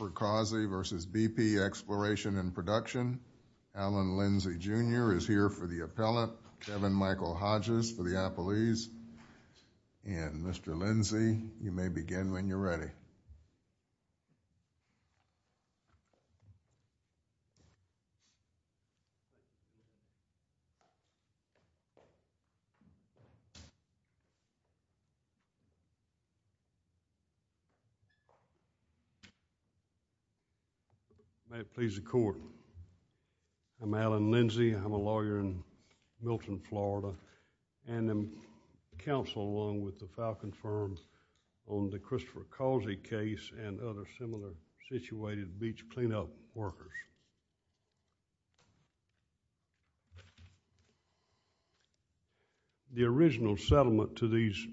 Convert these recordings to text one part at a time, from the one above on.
Alan Lindsey Jr. is here for the appellate. Kevin Michael Hodges for the appellees. And Mr. Lindsey, you may begin when you're ready. May it please the court. I'm Alan Lindsey. I'm a lawyer in Milton, Florida. And I'm counsel along with the Falcon Firm on the Christopher Causey case and other similar situated beach cleanup workers. The original settlement to these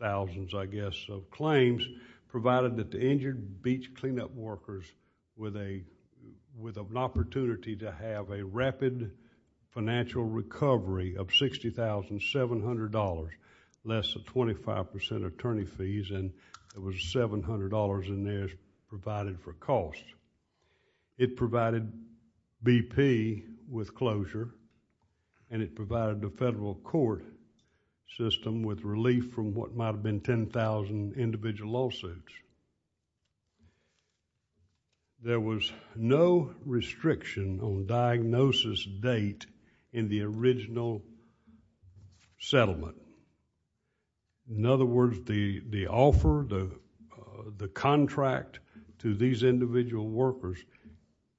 thousands, I guess, of claims provided that the injured beach cleanup workers with an opportunity to have a rapid financial recovery of $60,700, less than 25% attorney fees, and it was $700 in there provided for costs. It provided BP with closure and it provided the federal court system with relief from what might have been 10,000 individual lawsuits. There was no restriction on diagnosis date in the original settlement. In other words, the offer, the contract to these individual workers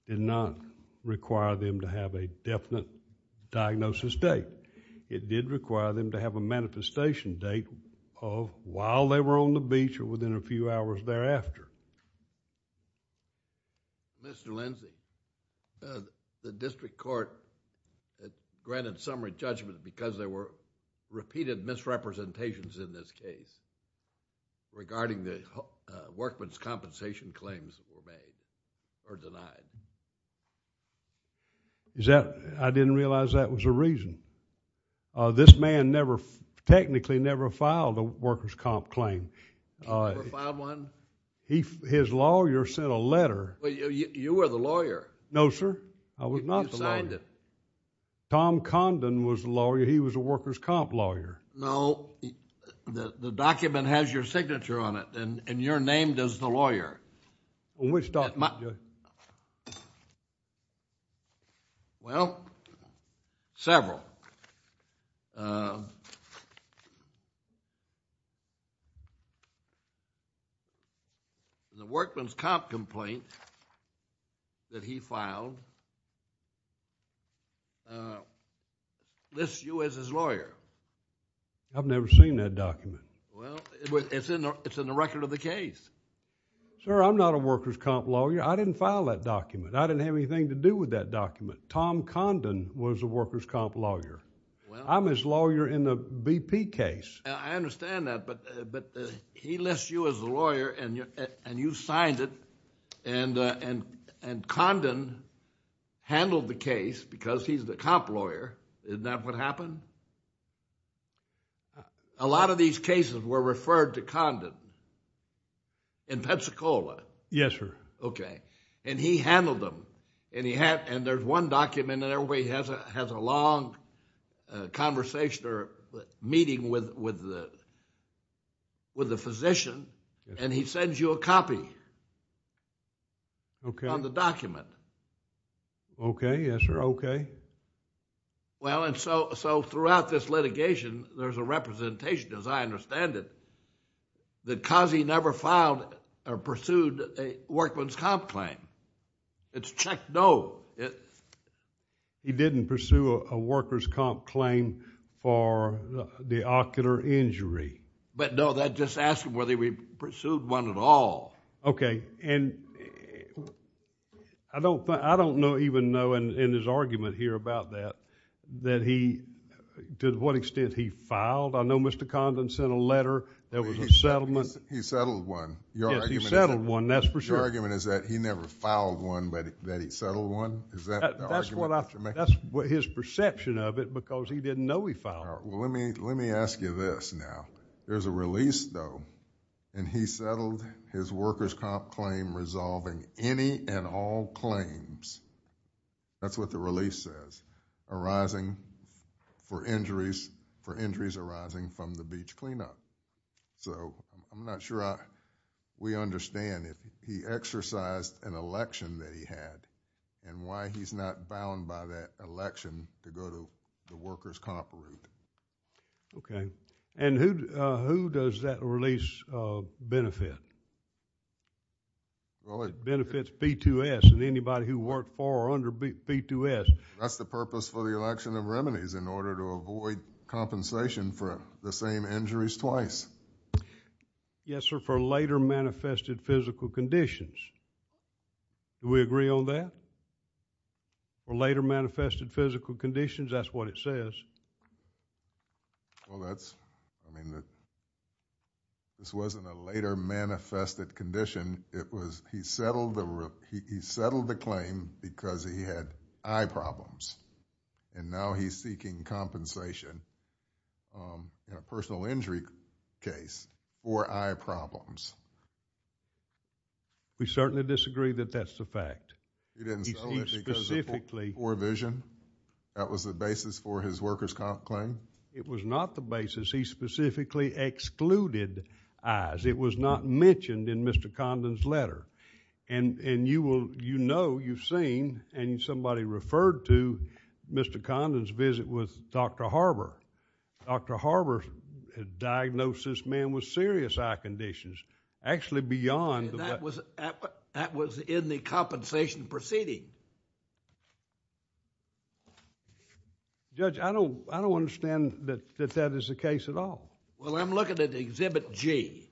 did not require them to have a definite diagnosis date. It did require them to have a manifestation date of while they were on the beach or within a few hours thereafter. Mr. Lindsey, the district court granted summary judgment because there were repeated misrepresentations in this case regarding the workman's compensation claims that were made or denied. I didn't realize that was a reason. This man technically never filed a worker's comp claim. He never filed one? His lawyer sent a letter. You were the lawyer. No, sir. I was not the lawyer. You signed it. Tom Condon was the lawyer. He was a worker's comp lawyer. No. The document has your signature on it and you're named as the lawyer. Which document, Judge? Well, several. The workman's comp complaint that he filed lists you as his lawyer. I've never seen that document. Well, it's in the record of the case. Sir, I'm not a worker's comp lawyer. I didn't file that document. I didn't have anything to do with that document. Tom Condon was a worker's comp lawyer. I'm his lawyer in the BP case. I understand that, but he lists you as the lawyer and you signed it and Condon handled the case because he's the comp lawyer. Isn't that what happened? A lot of these cases were referred to Condon in Pensacola. Yes, sir. Okay. And he handled them. And there's one document and everybody has a long conversation or meeting with the physician and he sends you a copy on the document. Okay. Yes, sir. Okay. Well, and so throughout this litigation there's a representation, as I understand it, that because he never filed or pursued a worker's comp claim. It's checked no. He didn't pursue a worker's comp claim for the ocular injury. But no, that just asks whether he pursued one at all. Okay. And I don't know even knowing in his argument here about that that he, to what extent he filed. I know Mr. Condon sent a letter that was a settlement. He settled one. Yes, he settled one, that's for sure. Your argument is that he never filed one but that he settled one? Is that the argument that you're making? That's his perception of it because he didn't know he filed one. Well, let me ask you this now. There's a release though and he settled his worker's comp claim resolving any and all claims. That's what the release says. Arising for injuries arising from the beach cleanup. So I'm not sure we understand if he exercised an election that he had and why he's not bound by that election to go to the worker's comp route. Okay. And who does that release benefit? It benefits B2S and anybody who worked for or under B2S. That's the purpose for the election of remedies in order to avoid compensation for the same injuries twice. Yes, sir, for later manifested physical conditions. Do we agree on that? For later manifested physical conditions, that's what it says. Well, that's, I mean, this wasn't a later manifested condition. He settled the claim because he had eye problems and now he's seeking compensation in a personal injury case for eye problems. We certainly disagree that that's the fact. He didn't settle it because of poor vision? That was the basis for his worker's comp claim? It was not the basis. He specifically excluded eyes. It was not mentioned in Mr. Condon's letter. And you know, you've seen and somebody referred to Mr. Condon's visit with Dr. Harbor. Dr. Harbor diagnosed this man with serious eye conditions, actually beyond... That was in the compensation proceeding. Judge, I don't understand that that is the case at all. Well, I'm looking at Exhibit G.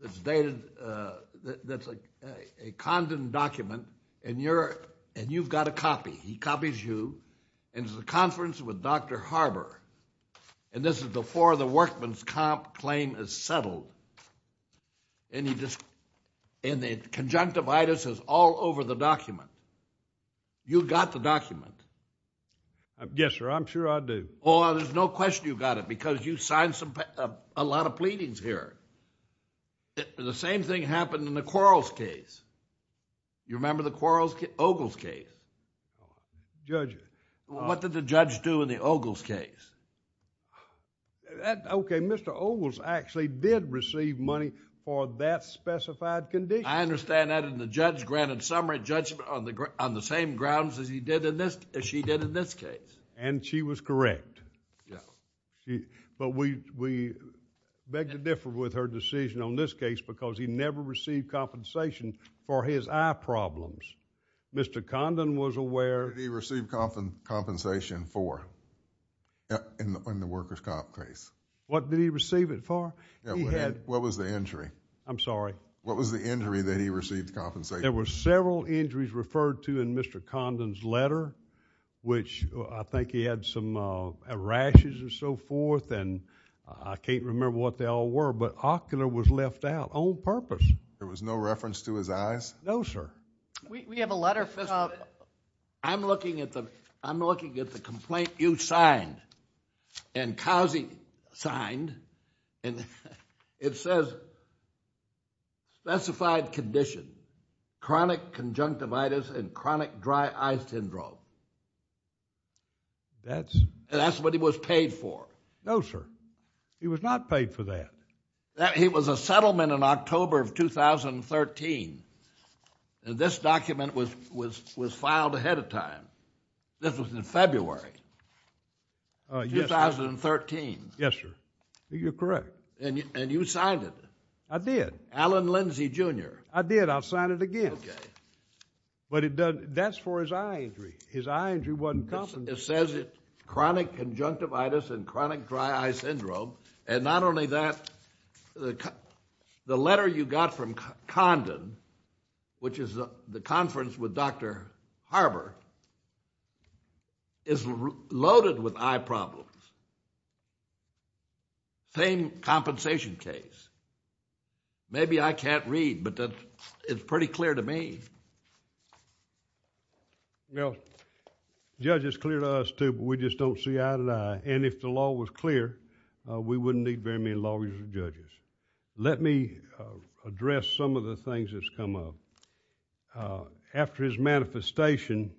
It's a Condon document and you've got a copy. He copies you and it's a conference with Dr. Harbor. And this is before the workman's comp claim is settled. And the conjunctivitis is all over the document. You got the document. Yes, sir, I'm sure I do. Well, there's no question you got it because you signed a lot of pleadings here. The same thing happened in the Quarles case. You remember the Quarles case, Ogles case? Judge... What did the judge do in the Ogles case? Okay, Mr. Ogles actually did receive money for that specified condition. I understand that and the judge granted summary judgment on the same grounds as she did in this case. And she was correct. But we beg to differ with her decision on this case because he never received compensation for his eye problems. Mr. Condon was aware... What did he receive compensation for in the worker's comp case? What did he receive it for? He had... What was the injury? I'm sorry. What was the injury that he received compensation for? There were several injuries referred to in Mr. Condon's letter which I think he had some rashes and so forth and I can't remember what they all were. But ocular was left out on purpose. There was no reference to his eyes? No, sir. We have a letter... I'm looking at the complaint you signed and Cousy signed and it says specified condition, chronic conjunctivitis and chronic dry eye syndrome. That's... That's what he was paid for. No, sir. He was not paid for that. He was a settlement in October of 2013. This document was filed ahead of time. This was in February... Yes, sir.... 2013. Yes, sir. You're correct. And you signed it. I did. Allen Lindsay, Jr. I did. I'll sign it again. Okay. But that's for his eye injury. His eye injury wasn't compensated. It says chronic conjunctivitis and chronic dry eye syndrome and not only that, the letter you got from Condon, which is the conference with Dr. Harbour, is loaded with eye problems. Same compensation case. Maybe I can't read, but it's pretty clear to me. Well, Judge, it's clear to us too, but we just don't see eye to eye. And if the law was clear, we wouldn't need very many lawyers and judges. Let me address some of the things that's come up. After his manifestation,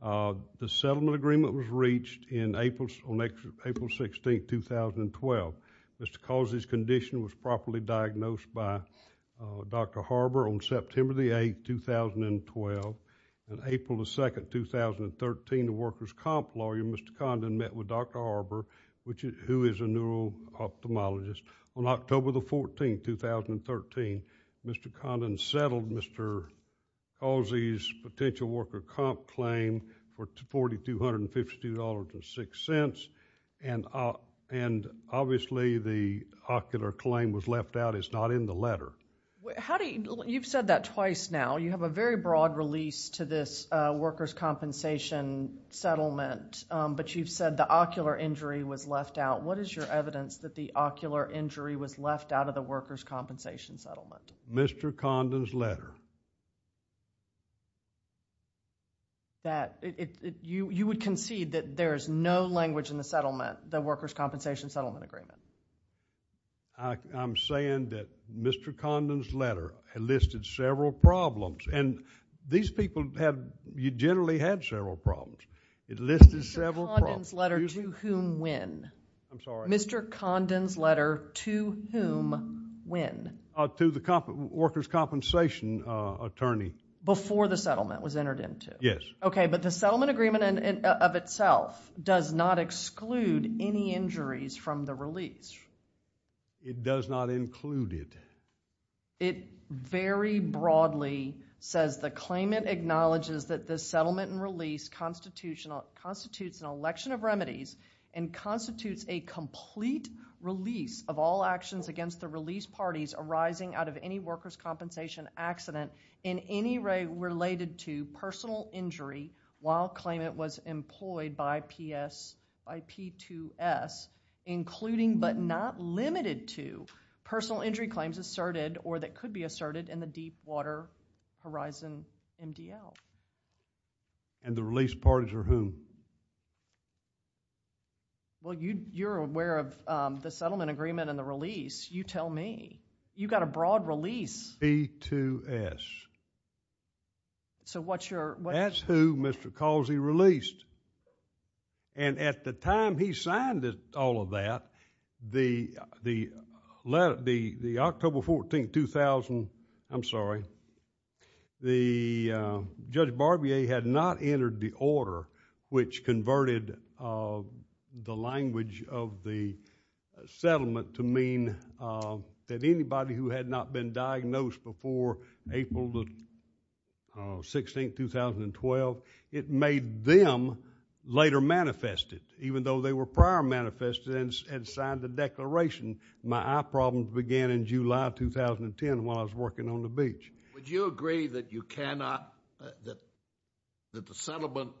the settlement agreement was reached on April 16th, 2012. Mr. Causey's condition was properly diagnosed by Dr. Harbour on September 8th, 2012. On April 2nd, 2013, the workers' comp lawyer, Mr. Condon, met with Dr. Harbour, who is a neuro-ophthalmologist. On October 14th, 2013, Mr. Condon settled Mr. Causey's potential worker comp claim for $4,252.06. And obviously, the ocular claim was left out. It's not in the letter. You've said that twice now. You have a very broad release to this workers' compensation settlement, but you've said the ocular injury was left out. What is your evidence that the ocular injury was left out of the workers' compensation settlement? Mr. Condon's letter. That you would concede that there is no language in the settlement, the workers' compensation settlement agreement? I'm saying that Mr. Condon's letter listed several problems, and these people have generally had several problems. It listed several problems. Mr. Condon's letter to whom when? I'm sorry? Mr. Condon's letter to whom when? To the workers' compensation attorney. Before the settlement was entered into? Yes. Okay, but the settlement agreement of itself does not exclude any injuries from the release. It does not include it. It very broadly says, the claimant acknowledges that the settlement and release constitutes an election of remedies and constitutes a complete release of all actions against the release parties arising out of any workers' compensation accident in any way related to personal injury while claimant was employed by P2S, including but not limited to personal injury claims asserted or that could be asserted in the Deepwater Horizon MDL. And the release parties are whom? Well, you're aware of the settlement agreement and the release. You tell me. You've got a broad release. P2S. So what's your? That's who Mr. Causey released. And at the time he signed all of that, the October 14, 2000, I'm sorry, the Judge Barbier had not entered the order which converted the language of the settlement to mean that anybody who had not been diagnosed before April 16, 2012, it made them later manifested. Even though they were prior manifested and signed the declaration, my eye problems began in July 2010 while I was working on the beach. Would you agree that you cannot, that the settlement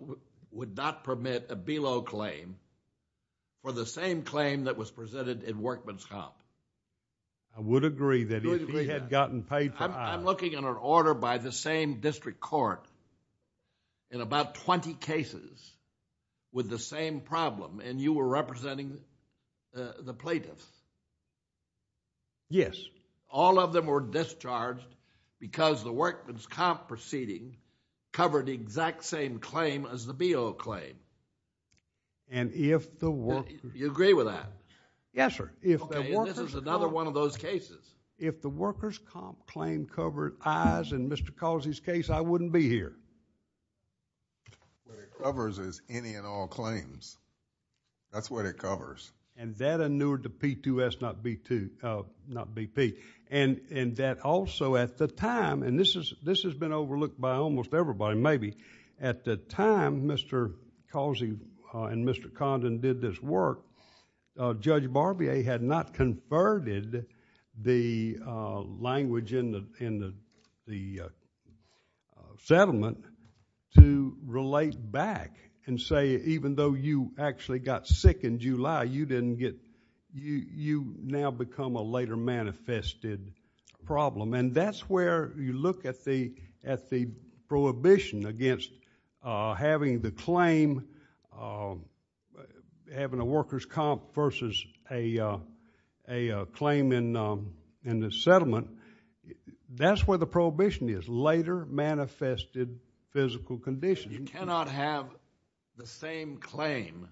would not permit a below claim for the same claim that was presented in Workman's Comp? I would agree that if he had gotten paid for eye. I'm looking at an order by the same district court in about 20 cases with the same problem and you were representing the plaintiffs. Yes. All of them were discharged because the Workman's Comp proceeding covered the exact same claim as the below claim. And if the Workman's... You agree with that? Yes, sir. Okay, this is another one of those cases. If the Worker's Comp claim covered eyes in Mr. Causey's case, I wouldn't be here. What it covers is any and all claims. That's what it covers. And that inured the P2S, not BP. And that also at the time, and this has been overlooked by almost everybody maybe, at the time Mr. Causey and Mr. Condon did this work, Judge Barbier had not converted the language in the settlement to relate back and say even though you actually got sick in July, you now become a later manifested problem. And that's where you look at the prohibition against having the claim, having a Worker's Comp versus a claim in the settlement. That's where the prohibition is, later manifested physical condition. You cannot have the same claim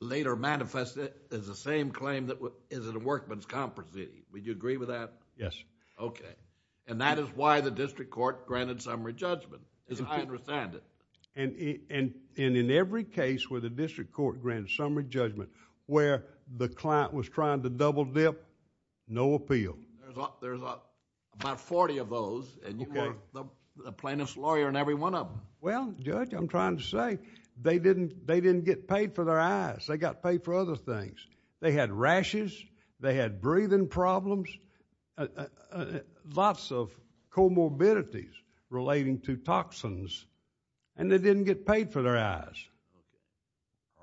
later manifested as the same claim that is in a Workman's Comp proceeding. Would you agree with that? Yes. Okay. And that is why the district court granted summary judgment. I understand it. And in every case where the district court granted summary judgment, where the client was trying to double dip, no appeal. There's about 40 of those, and you were the plaintiff's lawyer in every one of them. Well, Judge, I'm trying to say they didn't get paid for their eyes. They got paid for other things. They had rashes. They had breathing problems. Lots of comorbidities relating to toxins, and they didn't get paid for their eyes.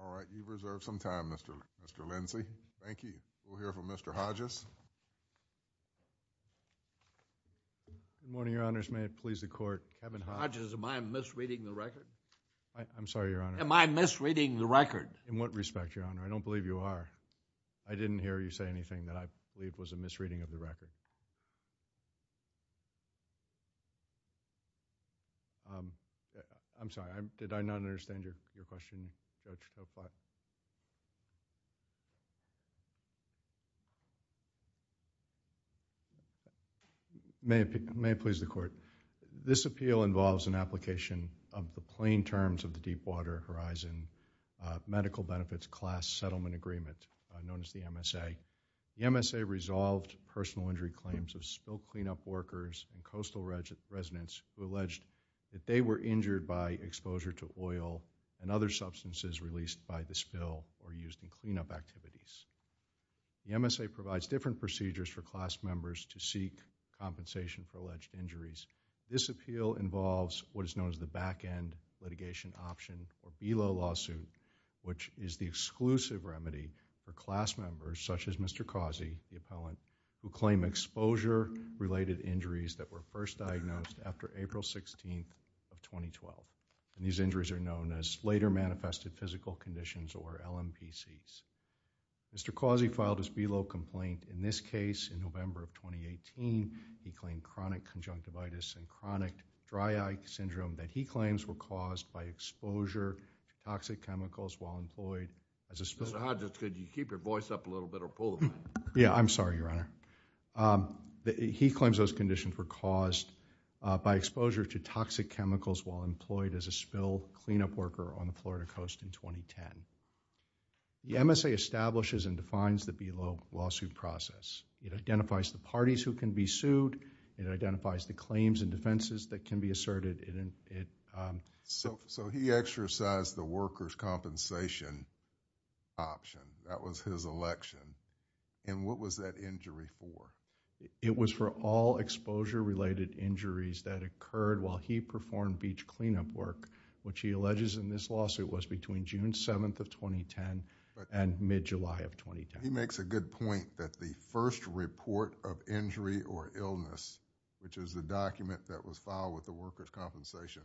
All right. You've reserved some time, Mr. Lindsey. Thank you. We'll hear from Mr. Hodges. Good morning, Your Honors. May it please the court. Kevin Hodges. Hodges, am I misreading the record? I'm sorry, Your Honor. Am I misreading the record? In what respect, Your Honor? I don't believe you are. I didn't hear you say anything that I believe was a misreading of the record. I'm sorry. Did I not understand your question, Judge? May it please the court. This appeal involves an application of the plain terms of the Deepwater Horizon Medical Benefits Class Settlement Agreement, known as the MSA. The MSA resolved personal injury claims of spill cleanup workers and coastal residents who alleged that they were injured by exposure to oil and other substances released by the spill or used in cleanup activities. The MSA provides different procedures for class members to seek compensation for alleged injuries. This appeal involves what is known as the back-end litigation option or BELO lawsuit, which is the exclusive remedy for class members, such as Mr. Causey, the appellant, who claim exposure-related injuries that were first diagnosed after April 16th of 2012. These injuries are known as later manifested physical conditions, or LMPCs. Mr. Causey filed his BELO complaint. In this case, in November of 2018, he claimed chronic conjunctivitis and chronic dry eye syndrome that he claims were caused by exposure to toxic chemicals while employed as a spill... Mr. Hodges, could you keep your voice up a little bit or pull the mic? Yeah, I'm sorry, Your Honor. He claims those conditions were caused by exposure to toxic chemicals while employed as a spill cleanup worker on the Florida coast in 2010. The MSA establishes and defines the BELO lawsuit process. It identifies the parties who can be sued. It identifies the claims and defenses that can be asserted. So he exercised the workers' compensation option. That was his election. And what was that injury for? It was for all exposure-related injuries that occurred while he performed beach cleanup work, which he alleges in this lawsuit was between June 7th of 2010 and mid-July of 2010. He makes a good point that the first report of injury or illness, which is the document that was filed with the Workers' Compensation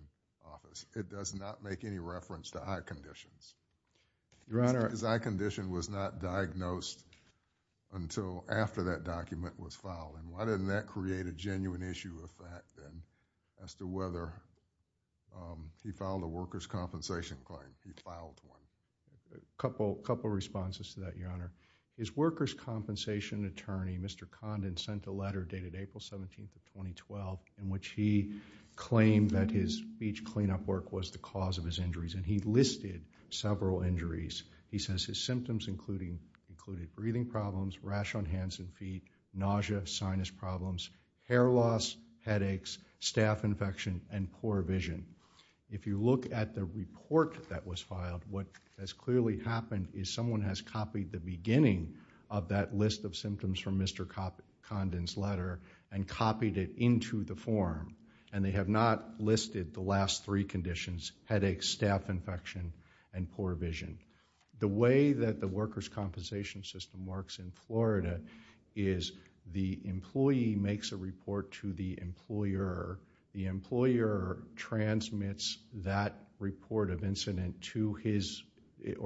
Office, it does not make any reference to eye conditions. Your Honor... His eye condition was not diagnosed until after that document was filed. And why didn't that create a genuine issue with that as to whether he filed a workers' compensation claim? He filed one. A couple responses to that, Your Honor. His workers' compensation attorney, Mr. Condon, sent a letter dated April 17th of 2012 in which he claimed that his beach cleanup work was the cause of his injuries, and he listed several injuries. He says his symptoms included breathing problems, rash on hands and feet, nausea, sinus problems, hair loss, headaches, staph infection, and poor vision. If you look at the report that was filed, what has clearly happened is someone has copied the beginning of that list of symptoms from Mr. Condon's letter and copied it into the form, and they have not listed the last three conditions, headaches, staph infection, and poor vision. The way that the workers' compensation system works in Florida is the employee makes a report to the employer. The employer transmits that report of incident to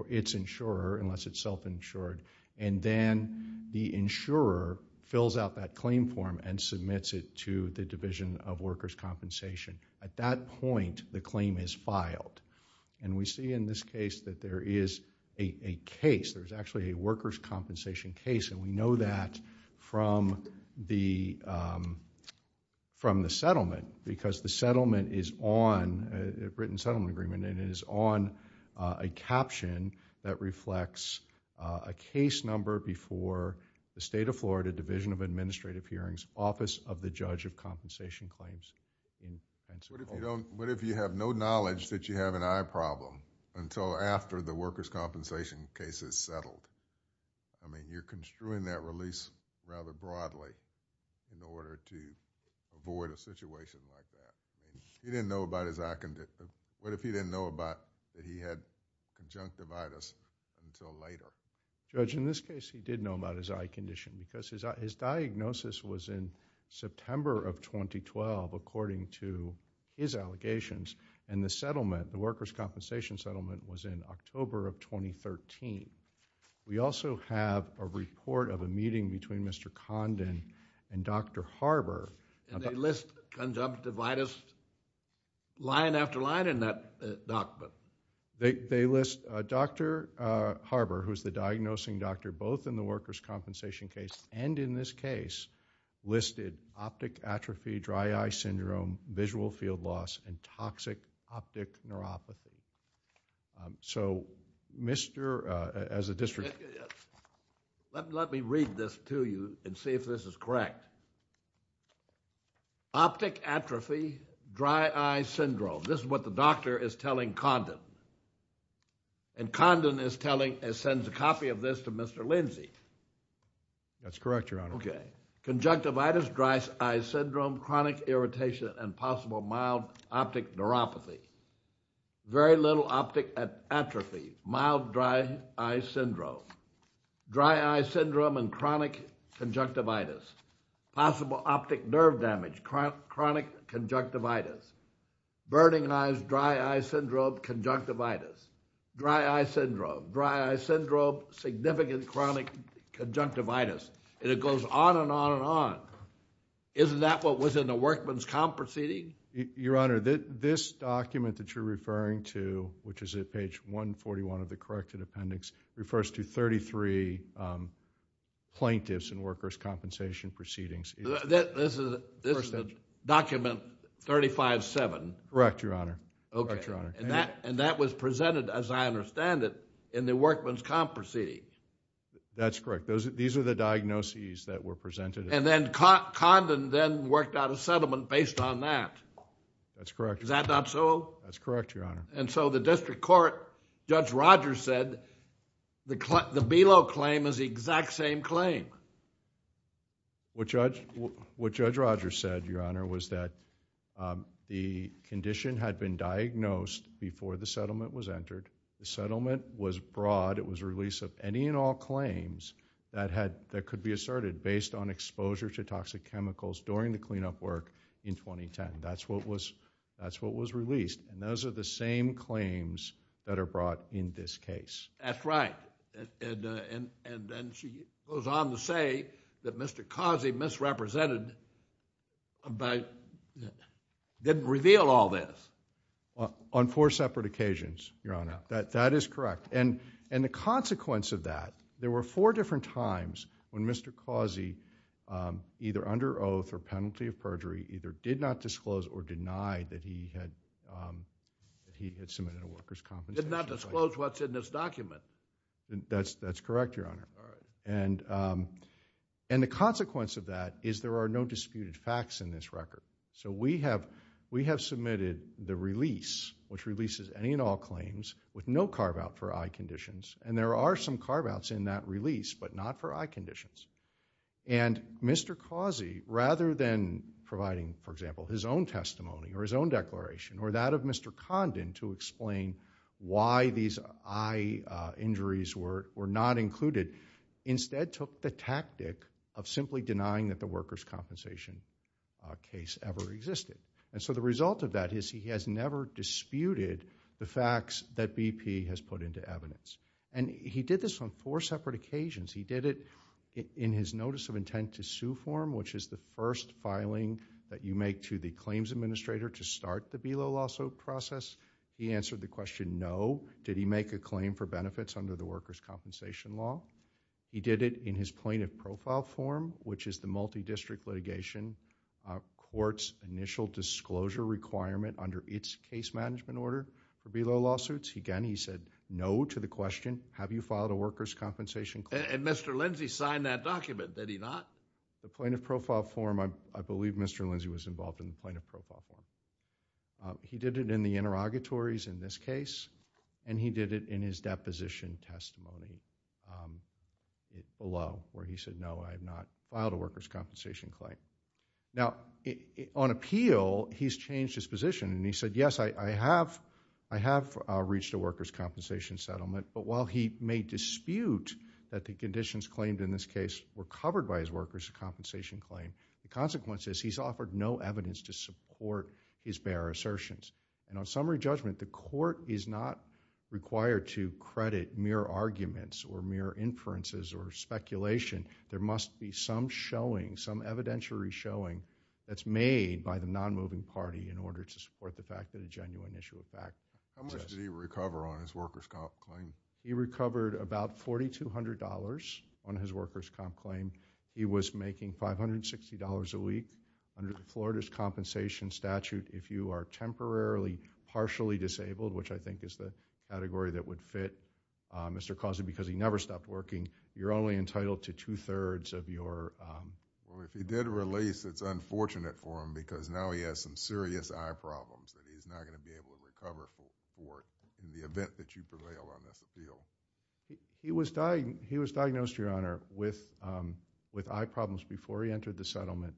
its insurer, unless it's self-insured, and then the insurer fills out that claim form and submits it to the Division of Workers' Compensation. At that point, the claim is filed, and we see in this case that there is a case. There's actually a workers' compensation case, and we know that from the settlement because the settlement is on a written settlement agreement and it is on a caption that reflects a case number before the State of Florida Division of Administrative Hearings, Office of the Judge of Compensation Claims in Pennsylvania. What if you have no knowledge that you have an eye problem until after the workers' compensation case is settled? I mean, you're construing that release rather broadly in order to avoid a situation like that. He didn't know about his eye condition. What if he didn't know about that he had conjunctivitis until later? Judge, in this case, he did know about his eye condition because his diagnosis was in September of 2012, according to his allegations, and the settlement, the workers' compensation settlement, was in October of 2013. We also have a report of a meeting between Mr. Condon and Dr. Harbour... And they list conjunctivitis line after line in that document? They list Dr. Harbour, who is the diagnosing doctor, both in the workers' compensation case and in this case, listed optic atrophy, dry eye syndrome, visual field loss, and toxic optic neuropathy. So, Mr.... as a district... Optic atrophy, dry eye syndrome. This is what the doctor is telling Condon. And Condon is telling... sends a copy of this to Mr. Lindsay. That's correct, Your Honor. Okay. Conjunctivitis, dry eye syndrome, chronic irritation, and possible mild optic neuropathy. Very little optic atrophy, mild dry eye syndrome. Dry eye syndrome and chronic conjunctivitis. Possible optic nerve damage, chronic conjunctivitis. Burning eyes, dry eye syndrome, conjunctivitis. Dry eye syndrome, dry eye syndrome, significant chronic conjunctivitis. And it goes on and on and on. Isn't that what was in the workmen's comp proceeding? Your Honor, this document that you're referring to, which is at page 141 of the corrected appendix, refers to thirty-three plaintiffs and workers' compensation proceedings. This is document 35-7? Correct, Your Honor. Okay. And that was presented, as I understand it, in the workmen's comp proceeding? That's correct. These are the diagnoses that were presented. And then Condon then worked out a settlement based on that? That's correct. Is that not so? That's correct, Your Honor. And so the district court, Judge Rogers said, the BELO claim is the exact same claim. What Judge Rogers said, Your Honor, was that the condition had been diagnosed before the settlement was entered. The settlement was broad. It was a release of any and all claims that could be asserted based on exposure to toxic chemicals during the cleanup work in 2010. That's what was released. And those are the same claims that are brought in this case. That's right. And then she goes on to say that Mr. Causey misrepresented by didn't reveal all this. On four separate occasions, Your Honor. That is correct. And the consequence of that, there were four different times when Mr. Causey, either under oath or penalty of perjury, either did not disclose or denied that he had submitted a workers' compensation claim. Did not disclose what's in this document. That's correct, Your Honor. All right. And the consequence of that is there are no disputed facts in this record. So we have submitted the release, which releases any and all claims, with no carve-out for eye conditions. And there are some carve-outs in that release, but not for eye conditions. And Mr. Causey, rather than providing, for example, his own testimony or his own declaration or that of Mr. Condon to explain why these eye injuries were not included, instead took the tactic of simply denying that the workers' compensation case ever existed. And so the result of that is he has never disputed the facts that BP has put into evidence. And he did this on four separate occasions. He did it in his notice of intent to sue form, which is the first filing that you make to the claims administrator to start the BELO lawsuit process. He answered the question, no, did he make a claim for benefits under the workers' compensation law? He did it in his plaintiff profile form, which is the multi-district litigation court's initial disclosure requirement under its case management order for BELO lawsuits. Again, he said no to the question, have you filed a workers' compensation claim? And Mr. Lindsey signed that document, did he not? The plaintiff profile form, I believe Mr. Lindsey was involved in the plaintiff profile form. He did it in the interrogatories in this case, and he did it in his deposition testimony below where he said no, I have not filed a workers' compensation claim. Now, on appeal, he's changed his position, and he said yes, I have reached a workers' compensation settlement, but while he may dispute that the conditions claimed in this case were covered by his workers' compensation claim, the consequence is he's offered no evidence to support his bare assertions. And on summary judgment, the court is not required to credit mere arguments or mere inferences or speculation. There must be some showing, some evidentiary showing, that's made by the non-moving party in order to support the fact that a genuine issue of fact exists. How much did he recover on his workers' comp claim? He recovered about $4,200 on his workers' comp claim. He was making $560 a week. Under the Florida's compensation statute, if you are temporarily partially disabled, which I think is the category that would fit Mr. Causey because he never stopped working, you're only entitled to two-thirds of your... Well, if he did release, it's unfortunate for him because now he has some serious eye problems that he's not going to be able to recover for in the event that you prevail on this appeal. He was diagnosed, Your Honor, with eye problems before he entered the settlement.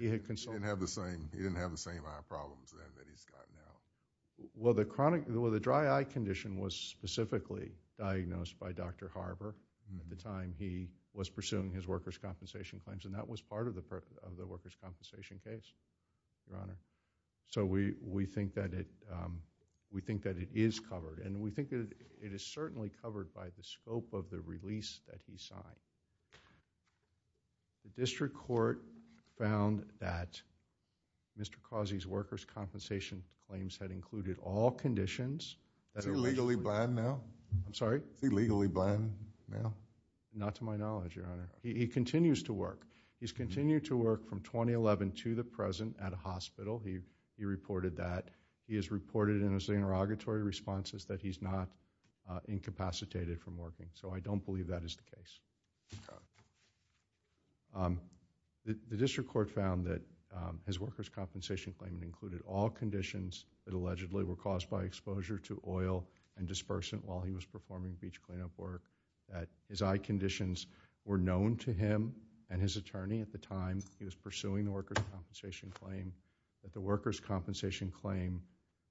He didn't have the same eye problems then that he's got now. Well, the dry eye condition was specifically diagnosed by Dr. Harber at the time he was pursuing his workers' compensation claims, and that was part of the workers' compensation case, Your Honor. So we think that it is covered, and we think it is certainly covered by the scope of the release that he signed. The district court found that Mr. Causey's workers' compensation claims had included all conditions... Is he legally blind now? I'm sorry? Not to my knowledge, Your Honor. He continues to work. He's continued to work from 2011 to the present at a hospital. He reported that. He has reported in his interrogatory responses that he's not incapacitated from working. So I don't believe that is the case. The district court found that his workers' compensation claim included all conditions that allegedly were caused by exposure to oil and dispersant while he was performing beach cleanup work, that his eye conditions were known to him and his attorney at the time he was pursuing the workers' compensation claim, that the workers' compensation claim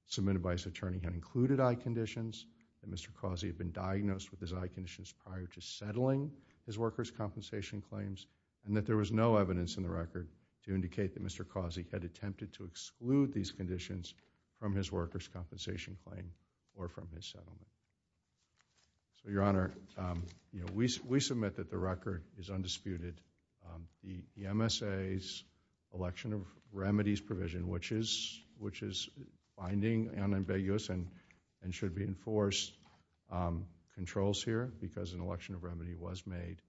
submitted by his attorney had included eye conditions, that Mr. Causey had been diagnosed with his eye conditions prior to settling his workers' compensation claims, and that there was no evidence in the record to indicate that Mr. Causey had attempted to exclude these conditions from his workers' compensation claim or from his settlement. Your Honor, we submit that the record is undisputed. The MSA's election of remedies provision, which is finding unambiguous and should be enforced, controls here because an election of remedy was made.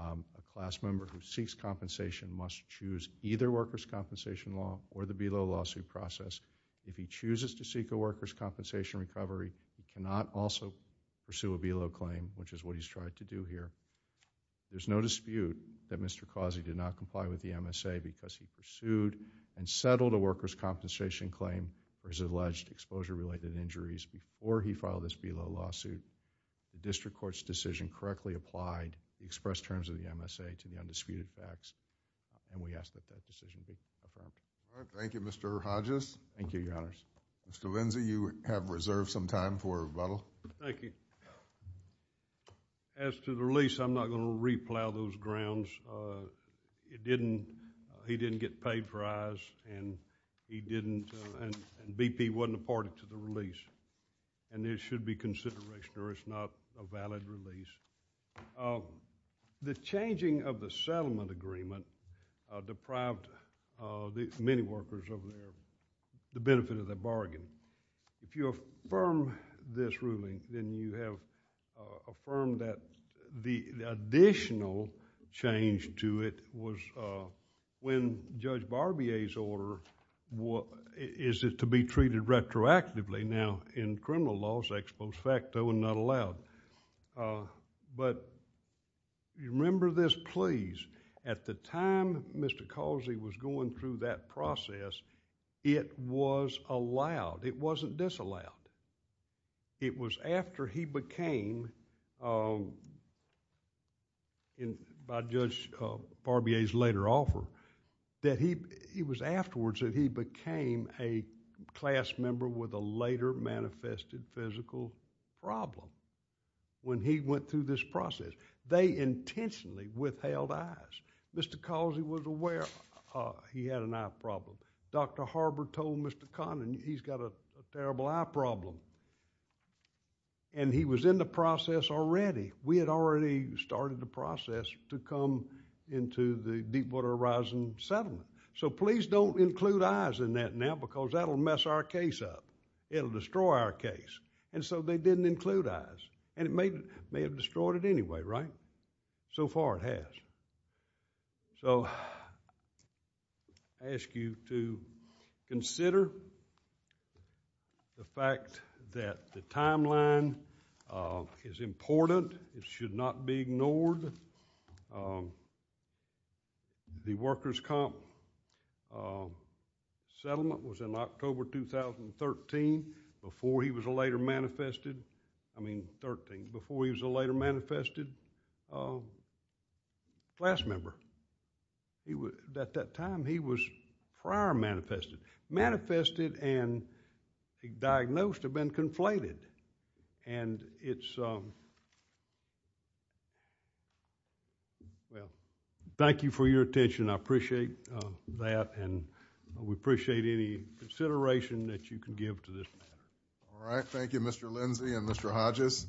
A class member who seeks compensation must choose either workers' compensation law or the below lawsuit process. If he chooses to seek a workers' compensation recovery, he cannot also pursue a below claim, which is what he's tried to do here. There's no dispute that Mr. Causey did not comply with the MSA because he pursued and settled a workers' compensation claim for his alleged exposure-related injuries before he filed this below lawsuit. The district court's decision correctly applied the expressed terms of the MSA to the undisputed facts, and we ask that that decision be brought up. All right. Thank you, Mr. Hodges. Thank you, Your Honor. Mr. Lindsey, you have reserved some time for rebuttal. Thank you. As to the release, I'm not going to re-plow those grounds. It didn't—he didn't get paid for eyes, and he didn't—and BP wasn't a part of the release, and this should be considered, or it's not a valid release. The changing of the settlement agreement deprived many workers of the benefit of the bargain. If you affirm this ruling, then you have affirmed that the additional change to it was when Judge Barbier's order is to be treated retroactively. Now, in criminal laws, that's post facto and not allowed, but remember this, please. At the time Mr. Causey was going through that process, it was allowed. It wasn't disallowed. It was after he became, by Judge Barbier's later offer, that he—it was afterwards that he became a class member with a later manifested physical problem when he went through this process. They intentionally withheld eyes. Mr. Causey was aware he had an eye problem. Dr. Harbor told Mr. Conlon he's got a terrible eye problem, and he was in the process already. We had already started the process to come into the Deepwater Horizon settlement, so please don't include eyes in that now because that'll mess our case up. It'll destroy our case, and so they didn't include eyes, and it may have destroyed it anyway, right? So far it has. So I ask you to consider the fact that the timeline is important. It should not be ignored. The workers' comp settlement was in October 2013 before he was a later manifested— class member. At that time, he was prior manifested. Manifested and diagnosed have been conflated, and it's— Well, thank you for your attention. I appreciate that, and we appreciate any consideration that you can give to this matter. All right. Thank you, Mr. Lindsay and Mr. Hodges.